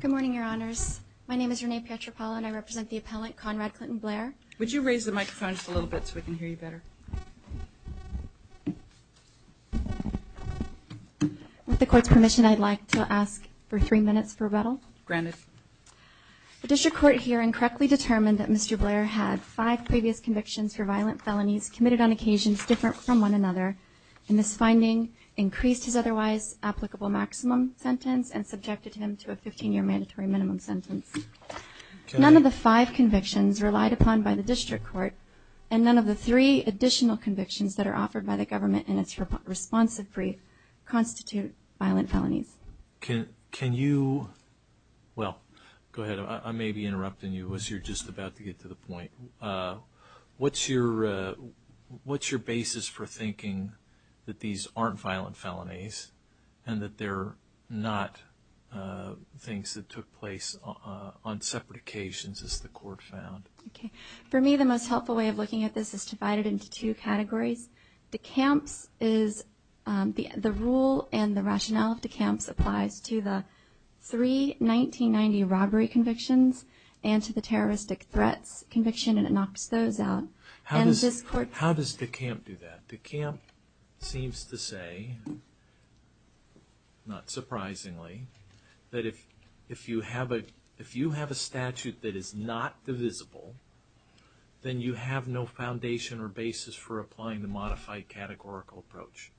Good morning, your honors. My name is Renee Pietropalo and I represent the appellant Conrad Clinton Blair. Would you raise the microphone a little bit so we can hear you better? With the court's permission, I'd like to ask for three minutes for rebuttal. Granted. The district court hearing correctly determined that Mr. Blair had five previous convictions for violent felonies committed on occasions different from one another and this finding increased his otherwise applicable maximum sentence and subjected him to a 15-year mandatory minimum sentence. None of the five convictions relied upon by the district court and none of the three additional convictions that are offered by the government in its responsive brief constitute violent felonies. Can you, well, go ahead. I may be interrupting you as you're just about to get to the point. What's your basis for thinking that these aren't things that took place on separate occasions as the court found? Okay, for me the most helpful way of looking at this is divided into two categories. De Camp's is the rule and the rationale of De Camp's applies to the three 1990 robbery convictions and to the terroristic threats conviction and it knocks those out. How does De Camp do that? De Camp seems to say, not surprisingly, that if you have a statute that is not divisible, then you have no foundation or basis for applying the modified categorical approach.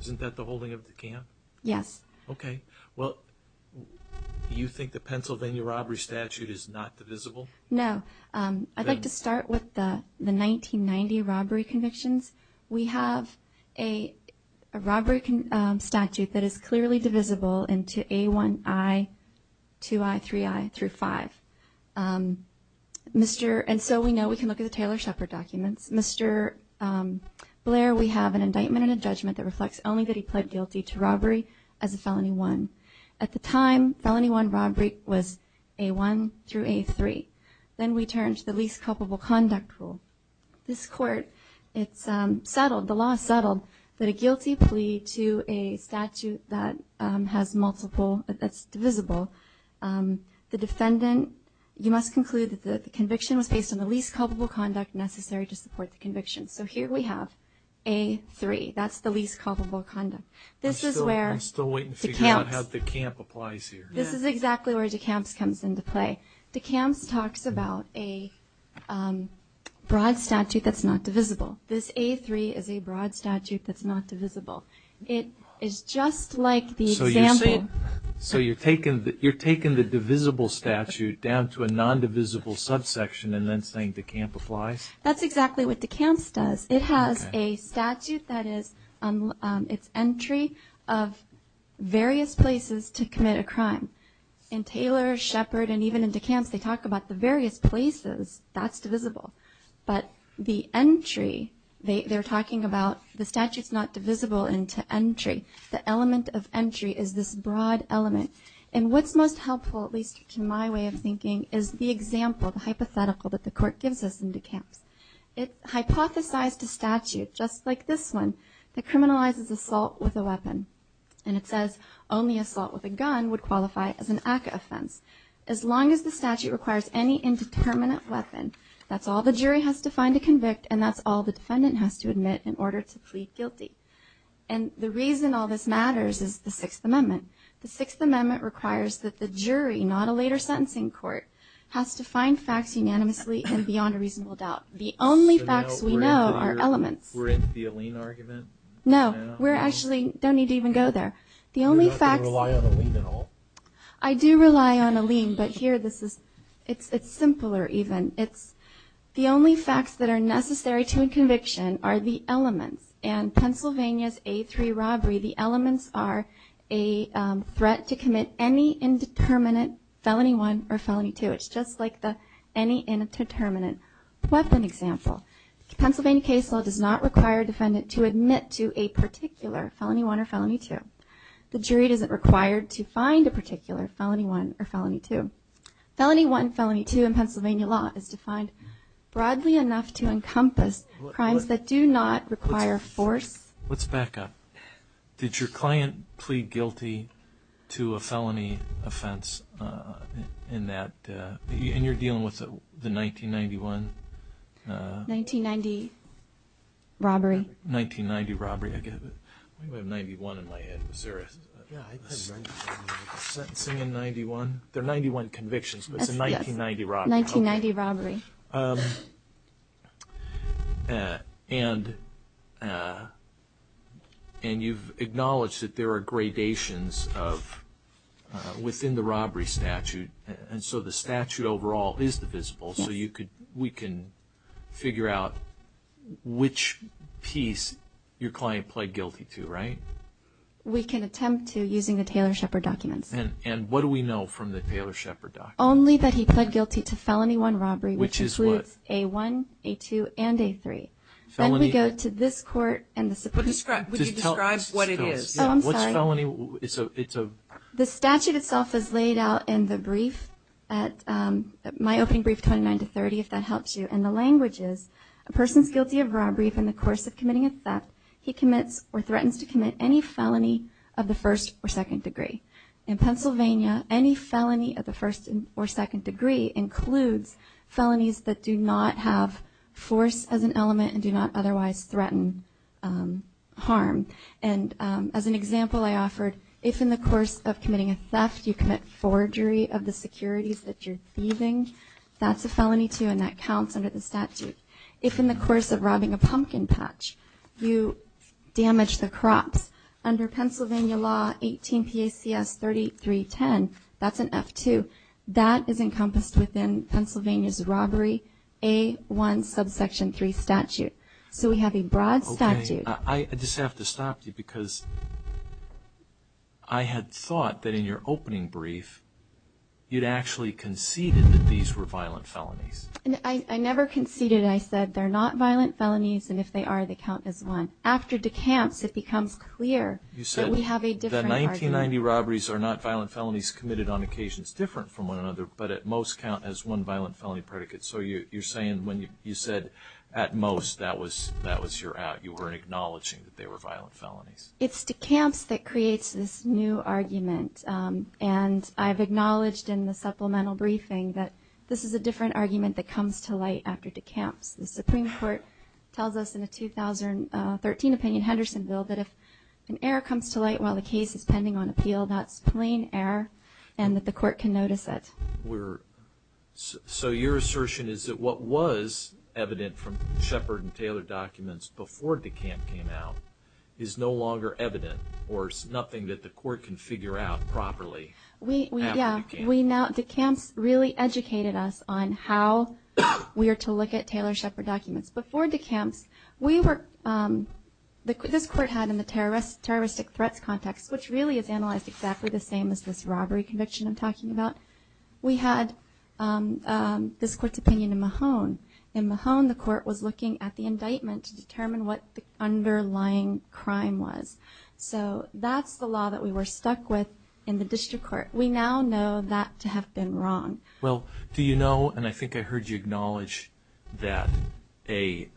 Isn't that the holding of De Camp? Yes. Okay, well, you think the Pennsylvania robbery statute is not divisible? No. I'd like to start with the 1990 robbery convictions. We have a robbery statute that is clearly divisible into A1I, 2I, 3I, through 5. And so we know we can look at the Taylor Shepard documents. Mr. Blair, we have an indictment and a judgment that reflects only that he pled guilty to robbery as a felony one. At the time, felony one robbery was A1 through A3. Then we turn to the least culpable conduct rule. This court, it's settled, the law is settled, that a guilty plea to a statute that has multiple, that's divisible, the defendant, you must conclude that the conviction was based on the least culpable conduct necessary to support the conviction. So here we have A3. That's the least culpable conduct. This is where De Camp's, this is exactly where De Camp's comes into play. De Camp's talks about a broad statute that's not divisible. This A3 is a broad statute that's not divisible. It is just like the example. So you're taking the divisible statute down to a non-divisible subsection and then saying De Camp applies? That's exactly what De Camp's does. It has a statute that is, it's entry of various places to commit a crime. In Taylor, Shepard, and even in De Camp's, they talk about the various places. That's divisible. But the entry, they're talking about the statute's not divisible into entry. The element of entry is this broad element. And what's most helpful, at least to my way of thinking, is the example, the hypothetical that the court gives us in De Camp's. It hypothesized a statute, just like this one, that criminalizes assault with a weapon. And it says only assault with a backup offense. As long as the statute requires any indeterminate weapon, that's all the jury has to find to convict and that's all the defendant has to admit in order to plead guilty. And the reason all this matters is the Sixth Amendment. The Sixth Amendment requires that the jury, not a later sentencing court, has to find facts unanimously and beyond a reasonable doubt. The only facts we know are elements. No, we actually don't need to even go there. I do rely on a lien, but here this is, it's simpler even. It's the only facts that are necessary to a conviction are the elements. And Pennsylvania's A3 robbery, the elements are a threat to commit any indeterminate felony one or felony two. It's just like any indeterminate weapon example. The Pennsylvania case law does not require a defendant to admit to a particular felony one or felony two. The jury isn't required to find a particular felony one or felony two. Felony one, felony two in Pennsylvania law is defined broadly enough to encompass crimes that do not require force. Let's back up. Did your client plead guilty to a felony offense in that, and you're dealing with the 1991? 1990 robbery. 1990 robbery. I have 91 in my head. Sentencing in 91. They're 91 convictions, but it's a 1990 robbery. 1990 robbery. And, and you've acknowledged that there are gradations of, within the robbery statute, and so the statute overall is divisible, so you could, we can figure out which piece your can attempt to using the Taylor-Shepard documents. And, and what do we know from the Taylor-Shepard documents? Only that he pled guilty to felony one robbery, which includes A1, A2, and A3. Then we go to this court, and the Supreme Court. Describe, would you describe what it is? Oh, I'm sorry. What's felony? It's a, it's a. The statute itself is laid out in the brief at, my opening brief, 29 to 30, if that helps you. And the language is, a person's guilty of robbery in the course of committing a theft, he commits or threatens to commit any felony of the first or second degree. In Pennsylvania, any felony of the first or second degree includes felonies that do not have force as an element and do not otherwise threaten harm. And as an example, I offered, if in the course of committing a theft, you commit forgery of the securities that you're thieving, that's a felony too, and that counts under the statute. If in the course of robbing a under Pennsylvania law 18 PACS 3310, that's an F2, that is encompassed within Pennsylvania's robbery A1 subsection 3 statute. So we have a broad statute. I just have to stop you because I had thought that in your opening brief, you'd actually conceded that these were violent felonies. I never conceded. I said they're not violent felonies, and if they are, they count as one. After decamps, it appears that we have a different argument. You said the 1990 robberies are not violent felonies committed on occasions different from one another, but at most count as one violent felony predicate. So you're saying when you said at most, that was that was your out. You weren't acknowledging that they were violent felonies. It's decamps that creates this new argument, and I've acknowledged in the supplemental briefing that this is a different argument that comes to light after decamps. The Supreme Court tells us in a 2013 opinion Henderson bill that if an error comes to light while the case is pending on appeal, that's plain error, and that the court can notice it. So your assertion is that what was evident from Shepard and Taylor documents before decamp came out is no longer evident, or is nothing that the court can figure out properly? Yeah, decamps really educated us on how we are to look at Taylor-Shepard documents. Before decamps, this court had in the terroristic threats context, which really is analyzed exactly the same as this robbery conviction I'm talking about, we had this court's opinion in Mahone. In Mahone, the court was looking at the indictment to determine what the underlying crime was. So that's the law that we were stuck with in the district court. We now know that to have been wrong. Well, do you know, and I think I heard you acknowledge, that a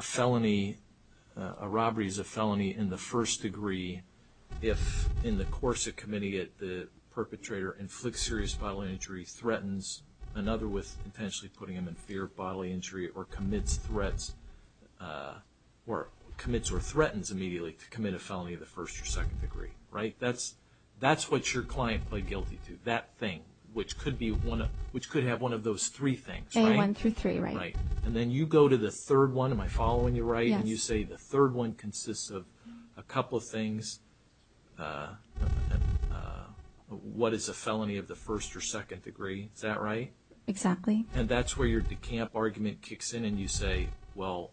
felony, a robbery is a felony in the first degree if in the course of committing it, the perpetrator inflicts serious bodily injury, threatens another with potentially putting him in fear of bodily injury, or commits threats, or commits or threatens immediately to commit a felony of the first or second degree, right? That's what your client pled guilty to, that thing, which could have one of those three things, right? A1 through 3, right. And then you go to the third one, am I following you right, and you say the third one consists of a couple of things, what is a felony of the first or second degree, is that right? Exactly. And that's where your decamp argument kicks in and you say, well,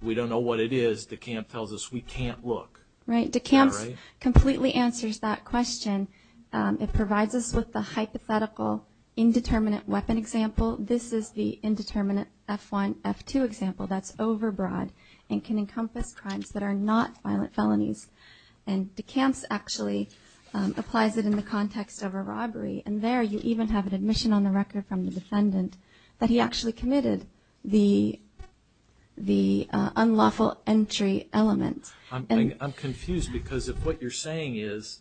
we don't know what it is, decamp tells us we can't look. Right, decamps completely answers that question. It provides us with the hypothetical indeterminate weapon example. This is the indeterminate F1, F2 example that's overbroad and can encompass crimes that are not violent felonies. And decamps actually applies it in the context of a robbery, and there you even have an admission on the record from the defendant that he actually committed the unlawful entry element. I'm confused because of what you're saying is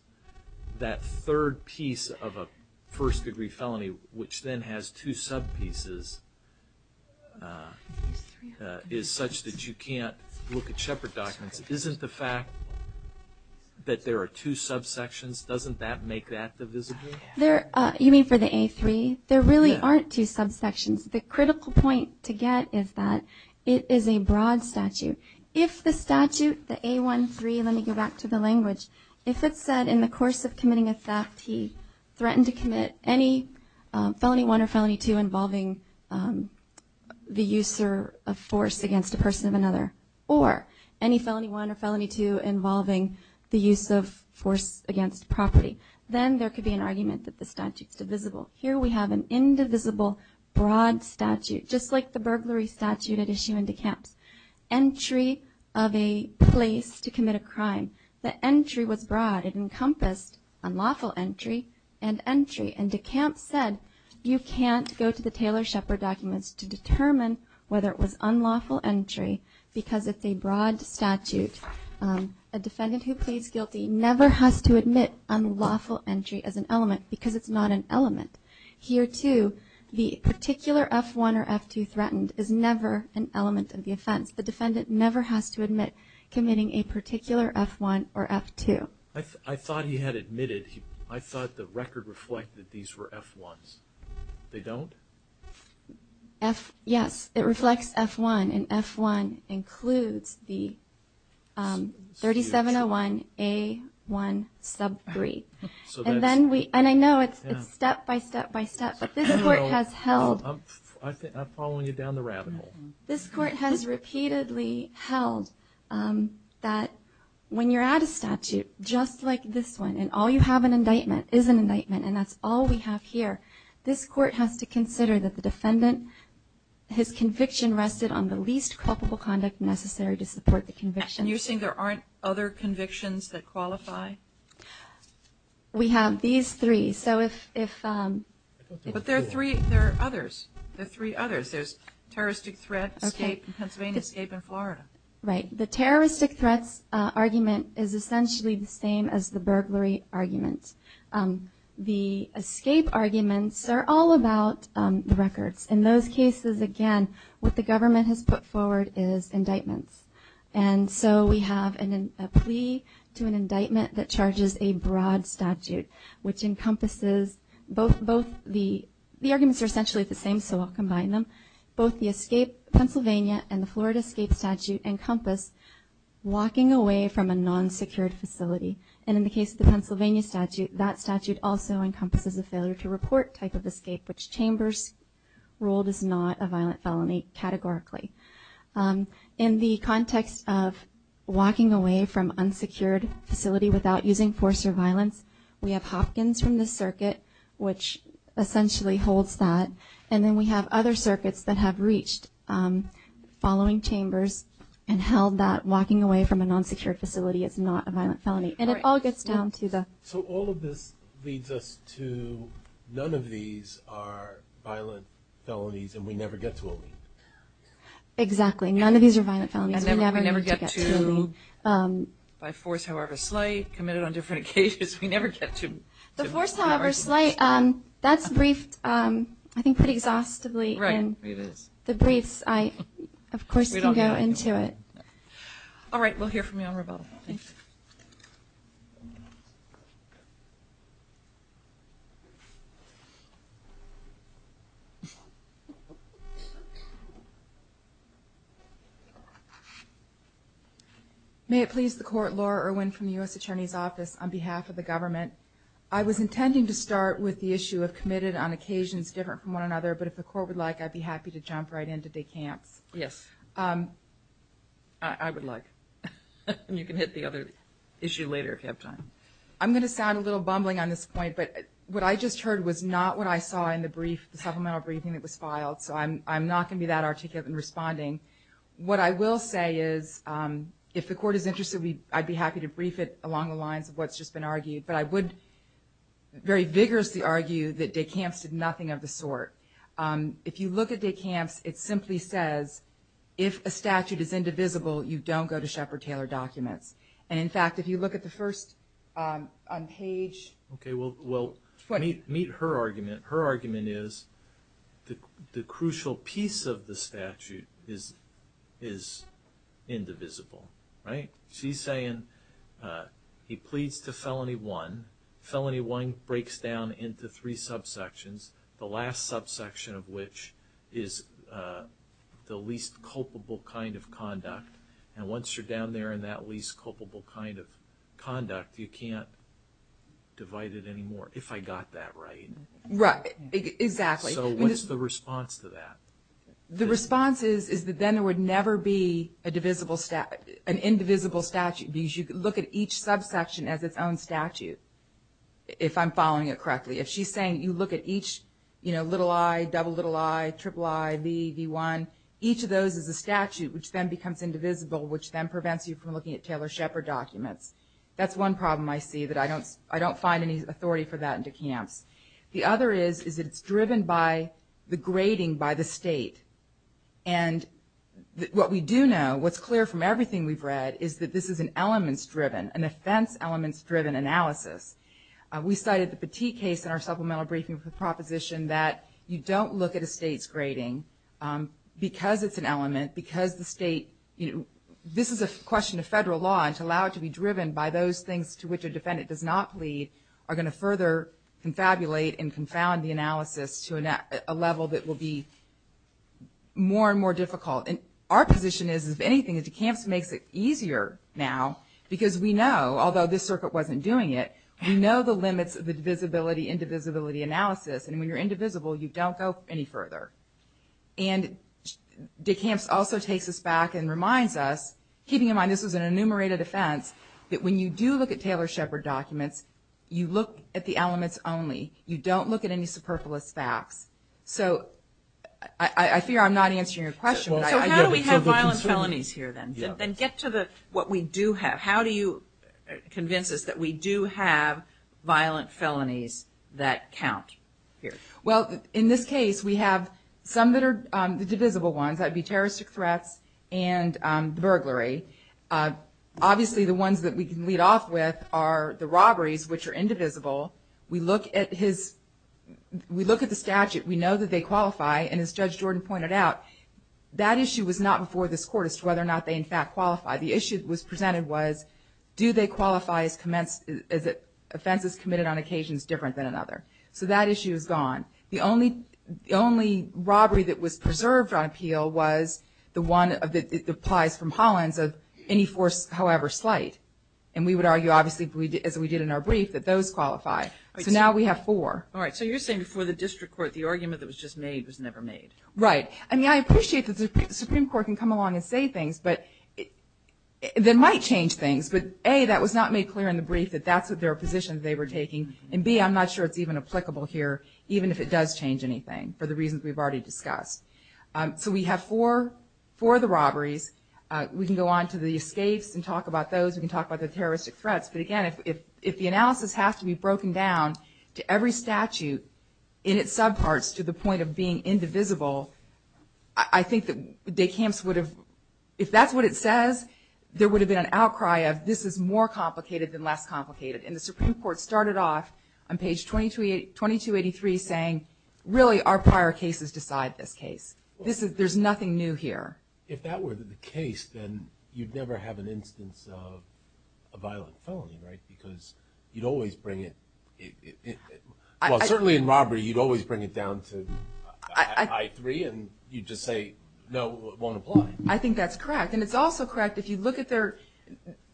that third piece of a first degree felony, which then has two sub pieces, is such that you can't look at Shepard documents. Isn't the fact that there are two subsections, doesn't that make that divisible? You mean for the A3? There really aren't two subsections. The critical point to get is that it is a broad statute. If the statute, the A1-3, let me go back to the language, if it said in the course of committing a theft he threatened to commit any felony 1 or felony 2 involving the use of force against a person of another, or any felony 1 or felony 2 involving the use of force against property, then there could be an argument that the statute's divisible. Here we have an indivisible broad statute, just like the burglary statute at issue in DeKalb's. Entry of a place to commit a crime. The entry was broad. It encompassed unlawful entry and entry, and DeKalb said you can't go to the Taylor Shepard documents to determine whether it was unlawful entry because it's a broad statute. A defendant who pleads guilty never has to admit unlawful entry as an element because it's not an element. Here too, the particular F1 or F2 threatened is never an element of the offense. The defendant never has to admit committing a particular F1 or F2. I thought he had admitted, I thought the record reflected that these were F1s. They don't? Yes, it reflects F1, and F1 includes the 3701 A1 sub 3. And then we, and I know it's step by step, but this court has held. I'm following you down the rabbit hole. This court has repeatedly held that when you're at a statute just like this one, and all you have an indictment, is an indictment, and that's all we have here, this court has to consider that the defendant, his conviction rested on the least culpable conduct necessary to support the conviction. And you're saying there aren't other convictions that qualify? We have these three. So if, if, but there are three, there are others, there are three others. There's terroristic threat, escape, Pennsylvania escape, and Florida. Right. The terroristic threats argument is essentially the same as the burglary argument. The escape arguments are all about the records. In those cases, again, what the government has put forward is a plea to an indictment that charges a broad statute, which encompasses both, both the, the arguments are essentially the same, so I'll combine them. Both the escape, Pennsylvania and the Florida escape statute, encompass walking away from a non-secured facility. And in the case of the Pennsylvania statute, that statute also encompasses a failure to report type of escape, which Chambers ruled is not a violent felony, categorically. In the context of walking away from unsecured facility without using force or violence, we have Hopkins from the circuit, which essentially holds that. And then we have other circuits that have reached following chambers and held that walking away from a non-secured facility is not a violent felony. And it all gets down to the... So all of this leads us to none of these are violent felonies and we never get to a lead. Exactly. None of these are violent felonies. We never get to a lead. By force, however slight, committed on different occasions, we never get to... The force, however slight, that's briefed, I think, pretty exhaustively in the briefs. I, of course, can go into it. All right. We'll hear from you on rebuttal. May it please the court. Laura Irwin from the U.S. Attorney's Office on behalf of the government. I was intending to start with the issue of committed on occasions different from one another, but if the court would like, I'd be happy to jump right into de Camp's. Yes. I would like. And you can hit the other issue later if you have time. I'm going to sound a little bumbling on this point, but what I just heard was not what I saw in the brief, the supplemental briefing that was filed. So I'm not going to be that articulate in responding. What I will say is, if the court is interested, I'd be happy to brief it along the lines of what's just been argued. But I would very vigorously argue that de Camp's did nothing of the sort. If you look at de Camp's, it simply says, if a statute is indivisible, you don't go to Sheppard-Taylor documents. And in fact, if you look at the first page... Okay. Well, meet her argument. Her argument is the crucial piece of the statute is indivisible. Right? She's saying he pleads to felony one. Felony one breaks down into three subsections. The last subsection of which is the least culpable kind of conduct. And once you're down there in that least culpable kind of conduct, you can't divide it anymore. If I got that right. Right. Exactly. So what's the response to that? The response is that then there would never be an indivisible statute. Because you look at each subsection as its own statute. If I'm following it correctly. If she's saying you look at each, you know, little I, double little I, triple I, V, V1, each of those is a statute which then becomes indivisible, which then prevents you from looking at Taylor-Sheppard documents. That's one problem I see that I don't find any authority for that in de Camp's. The other is, is it's driven by the grading by the state. And what we do know, what's clear from everything we've read, is that this is an elements driven, an offense elements driven analysis. We cited the Petit case in our supplemental briefing proposition that you don't look at a state's grading because it's an element, because the state, you know, this is a question of federal law and to allow it to be driven by those things to which a defendant does not plead are going to further confabulate and confound the analysis to a level that will be more and more difficult. And our position is, if anything, is de Camp's makes it easier now because we know, although this circuit wasn't doing it, we know the limits of the divisibility, indivisibility analysis. And when you're indivisible, you don't go any further. And de Camp's also takes us back and reminds us, keeping in mind this was an enumerated offense, that when you do look at Taylor-Sheppard documents, you look at the elements only. You don't look at any superfluous facts. So I fear I'm not answering your question. So how do we have violent felonies here then? Then get to what we do have. How do you convince us that we do have violent felonies that count here? Well, in this case, we have some that are the divisible ones. That would be terroristic threats and burglary. Obviously, the ones that we can lead off with are the robberies, which are indivisible. We look at his, we look at the statute. We know that they qualify. And as Judge Jordan pointed out, that issue was not before this court as to whether or not they, in fact, qualify. The issue that was presented was, do they qualify as offenses committed on occasions different than another? So that issue is gone. The only robbery that was preserved on appeal was the one that applies from Hollins of any force, however slight. And we would argue, obviously, as we did in our brief, that those qualify. So now we have four. All right. So you're saying before the district court, the argument that was just made was never made. Right. I mean, I appreciate that the Supreme Court can come along and say things, but that might change things. But A, that was not made clear in the brief that that's their position they were taking. And B, I'm not sure it's even applicable here, even if it does change anything for the reasons we've already discussed. So we have four, four of the robberies. We can go on to the escapes and talk about those. We can talk about the terroristic threats. But again, if the analysis has to be broken down to every statute in its subparts to the whole, I think that Decamps would have, if that's what it says, there would have been an outcry of this is more complicated than less complicated. And the Supreme Court started off on page 2283 saying, really, our prior cases decide this case. This is, there's nothing new here. If that were the case, then you'd never have an instance of a violent felony. Right. Because you'd always bring it. Well, certainly in robbery, you'd always bring it down to I3 and you'd just say, no, it won't apply. I think that's correct. And it's also correct if you look at their,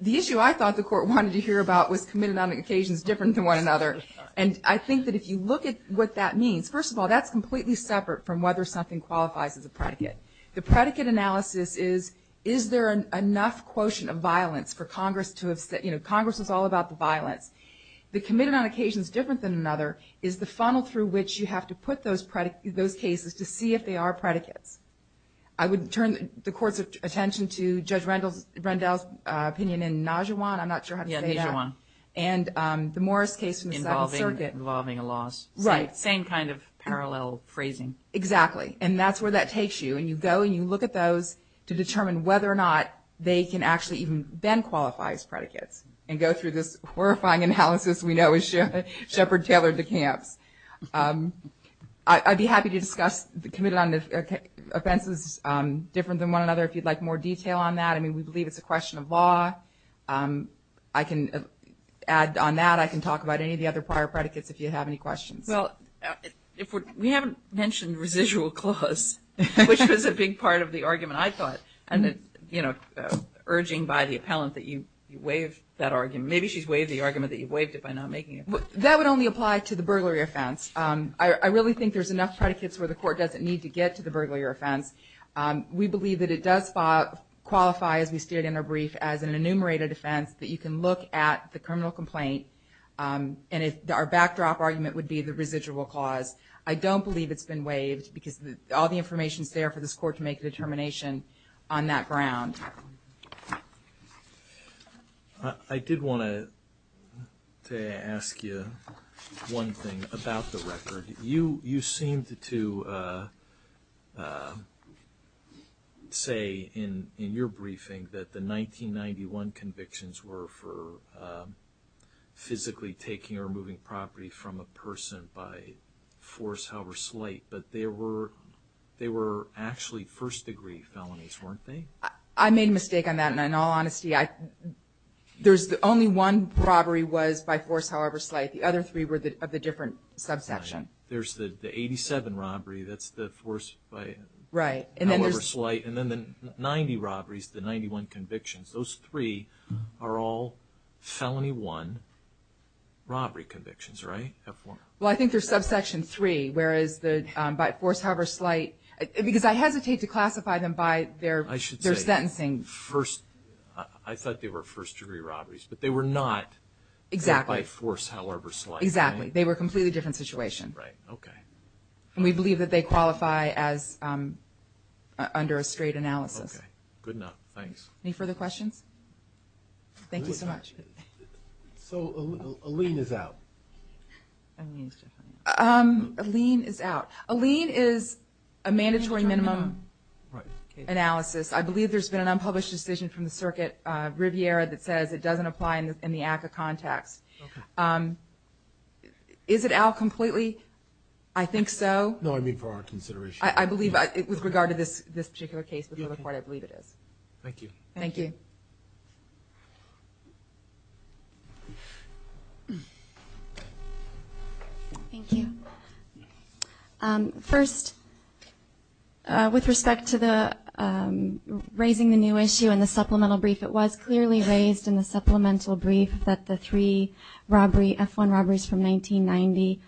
the issue I thought the court wanted to hear about was committed on occasions different than one another. And I think that if you look at what that means, first of all, that's completely separate from whether something qualifies as a predicate. The predicate analysis is, is there an enough quotient of violence for Congress to have said, you know, Congress is all about the violence. The committed on occasions different than another is the funnel through which you have to put those cases to see if they are predicates. I would turn the court's attention to Judge Rendell's opinion in Najuwan, I'm not sure how to say that. Yeah, Najuwan. And the Morris case involving a loss. Right. Same kind of parallel phrasing. Exactly. And that's where that takes you. And you go and you look at those to determine whether or not they can actually even then qualify as I'd be happy to discuss the committed on offenses different than one another if you'd like more detail on that. I mean, we believe it's a question of law. I can add on that. I can talk about any of the other prior predicates if you have any questions. Well, if we haven't mentioned residual clause, which was a big part of the argument, I thought, and, you know, urging by the appellant that you waive that argument. Maybe she's waived the argument that you waived it by not making it. That would only apply to the burglary offense. I really think there's enough predicates where the court doesn't need to get to the burglary offense. We believe that it does qualify, as we stated in our brief, as an enumerated offense that you can look at the criminal complaint and our backdrop argument would be the residual clause. I don't believe it's been waived because all the One thing about the record. You seemed to say in your briefing that the 1991 convictions were for physically taking or moving property from a person by force, however slight, but they were actually first degree felonies, weren't they? I made a mistake on that, and in all honesty, there's only one robbery was by force, however slight. The other three were of a different subsection. There's the 87 robbery, that's the force by however slight, and then the 90 robberies, the 91 convictions, those three are all felony one robbery convictions, right? Well, I think they're subsection three, whereas the by force, however slight, because I hesitate to I thought they were first degree robberies, but they were not by force, however slight. Exactly. They were a completely different situation. Right, okay. And we believe that they qualify as under a straight analysis. Okay, good enough, thanks. Any further questions? Thank you so much. So a lien is out. A lien is out. A lien is a mandatory minimum analysis. I believe there's been an unpublished decision from the circuit, Riviera, that says it doesn't apply in the ACCA context. Okay. Is it out completely? I think so. No, I mean for our consideration. I believe, with regard to this particular case before the court, I believe it is. Thank you. Thank you. Thank you. First, with respect to the raising the new issue and the supplemental brief, it was clearly raised in the supplemental brief that the three F1 robberies from 1990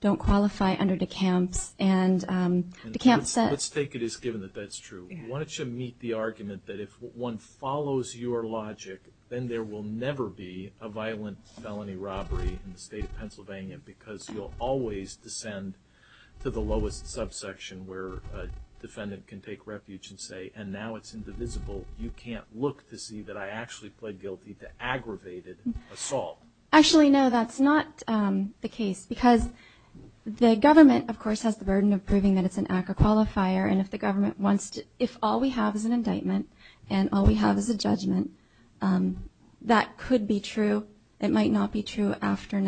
don't qualify under DeKalb's and DeKalb said Let's take it as given that that's true. Why don't you meet the argument that if one follows your logic, then there will never be a violent felony robbery in the state of Pennsylvania, because you'll always descend to the lowest subsection where a defendant can take refuge and say, and now it's indivisible. You can't look to see that I actually pled guilty to aggravated assault. Actually, no, that's not the case because the government, of course, has the burden of proving that it's an ACCA qualifier. And if the government wants to, if all we have is an indictment and all we have is a judgment, that could be true. It might not be true after,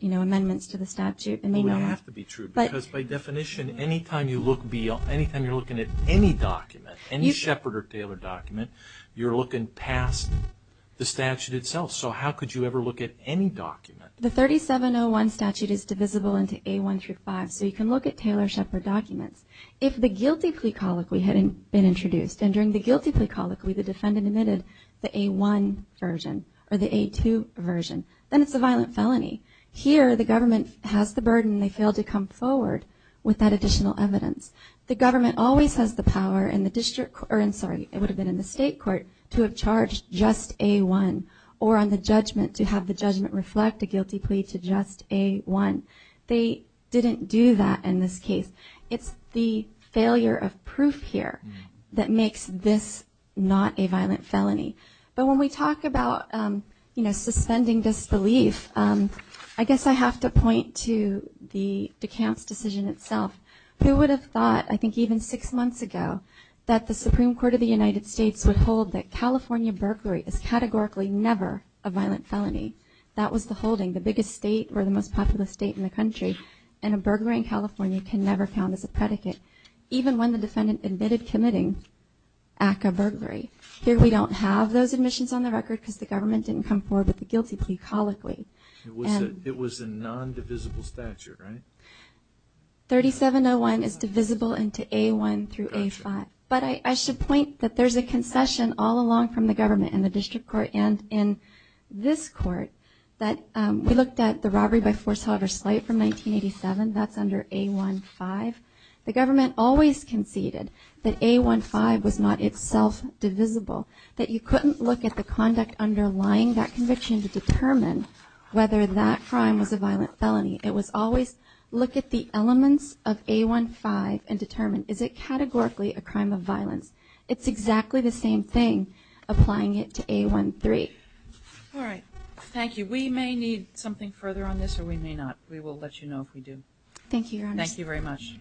you know, amendments to the statute. It would have to be true because by definition, anytime you look, anytime you're looking at any document, any Shepard or Taylor document, you're looking past the statute itself. So how could you ever look at any document? The 3701 statute is divisible into A1 through 5, so you can look at Taylor Shepard documents. If the guilty plea colloquy hadn't been introduced and during the guilty plea colloquy the defendant admitted the A1 version or the A2 version, then it's a violent felony. Here, the government has the burden. They fail to come forward with that additional evidence. The government always has the power in the district, or I'm sorry, it would have been in the state court to have charged just A1 or on the judgment to have the judgment reflect a guilty plea to just A1. They didn't do that in this case. It's the failure of proof here that makes this not a violent felony. But when we talk about, you know, suspending disbelief, I guess I have to point to the DeKalb's decision itself. Who would have thought, I think even six months ago, that the Supreme Court of the United States would hold that California burglary is categorically never a violent felony? That was the holding. The biggest state or the most populous state in the country. And a burglary in California can never count as a predicate, even when the defendant admitted committing act of burglary. Here we don't have those admissions on the record because the government didn't come forward with the guilty plea colloquy. It was a non-divisible statute, right? Whether that crime was a violent felony, it was always look at the elements of A1-5 and determine is it categorically a crime of violence? It's exactly the same thing applying it to A1-3. All right. Thank you. We may need something further on this or we may not. We will let you know if we do. Thank you, Your Honor. Thank you very much.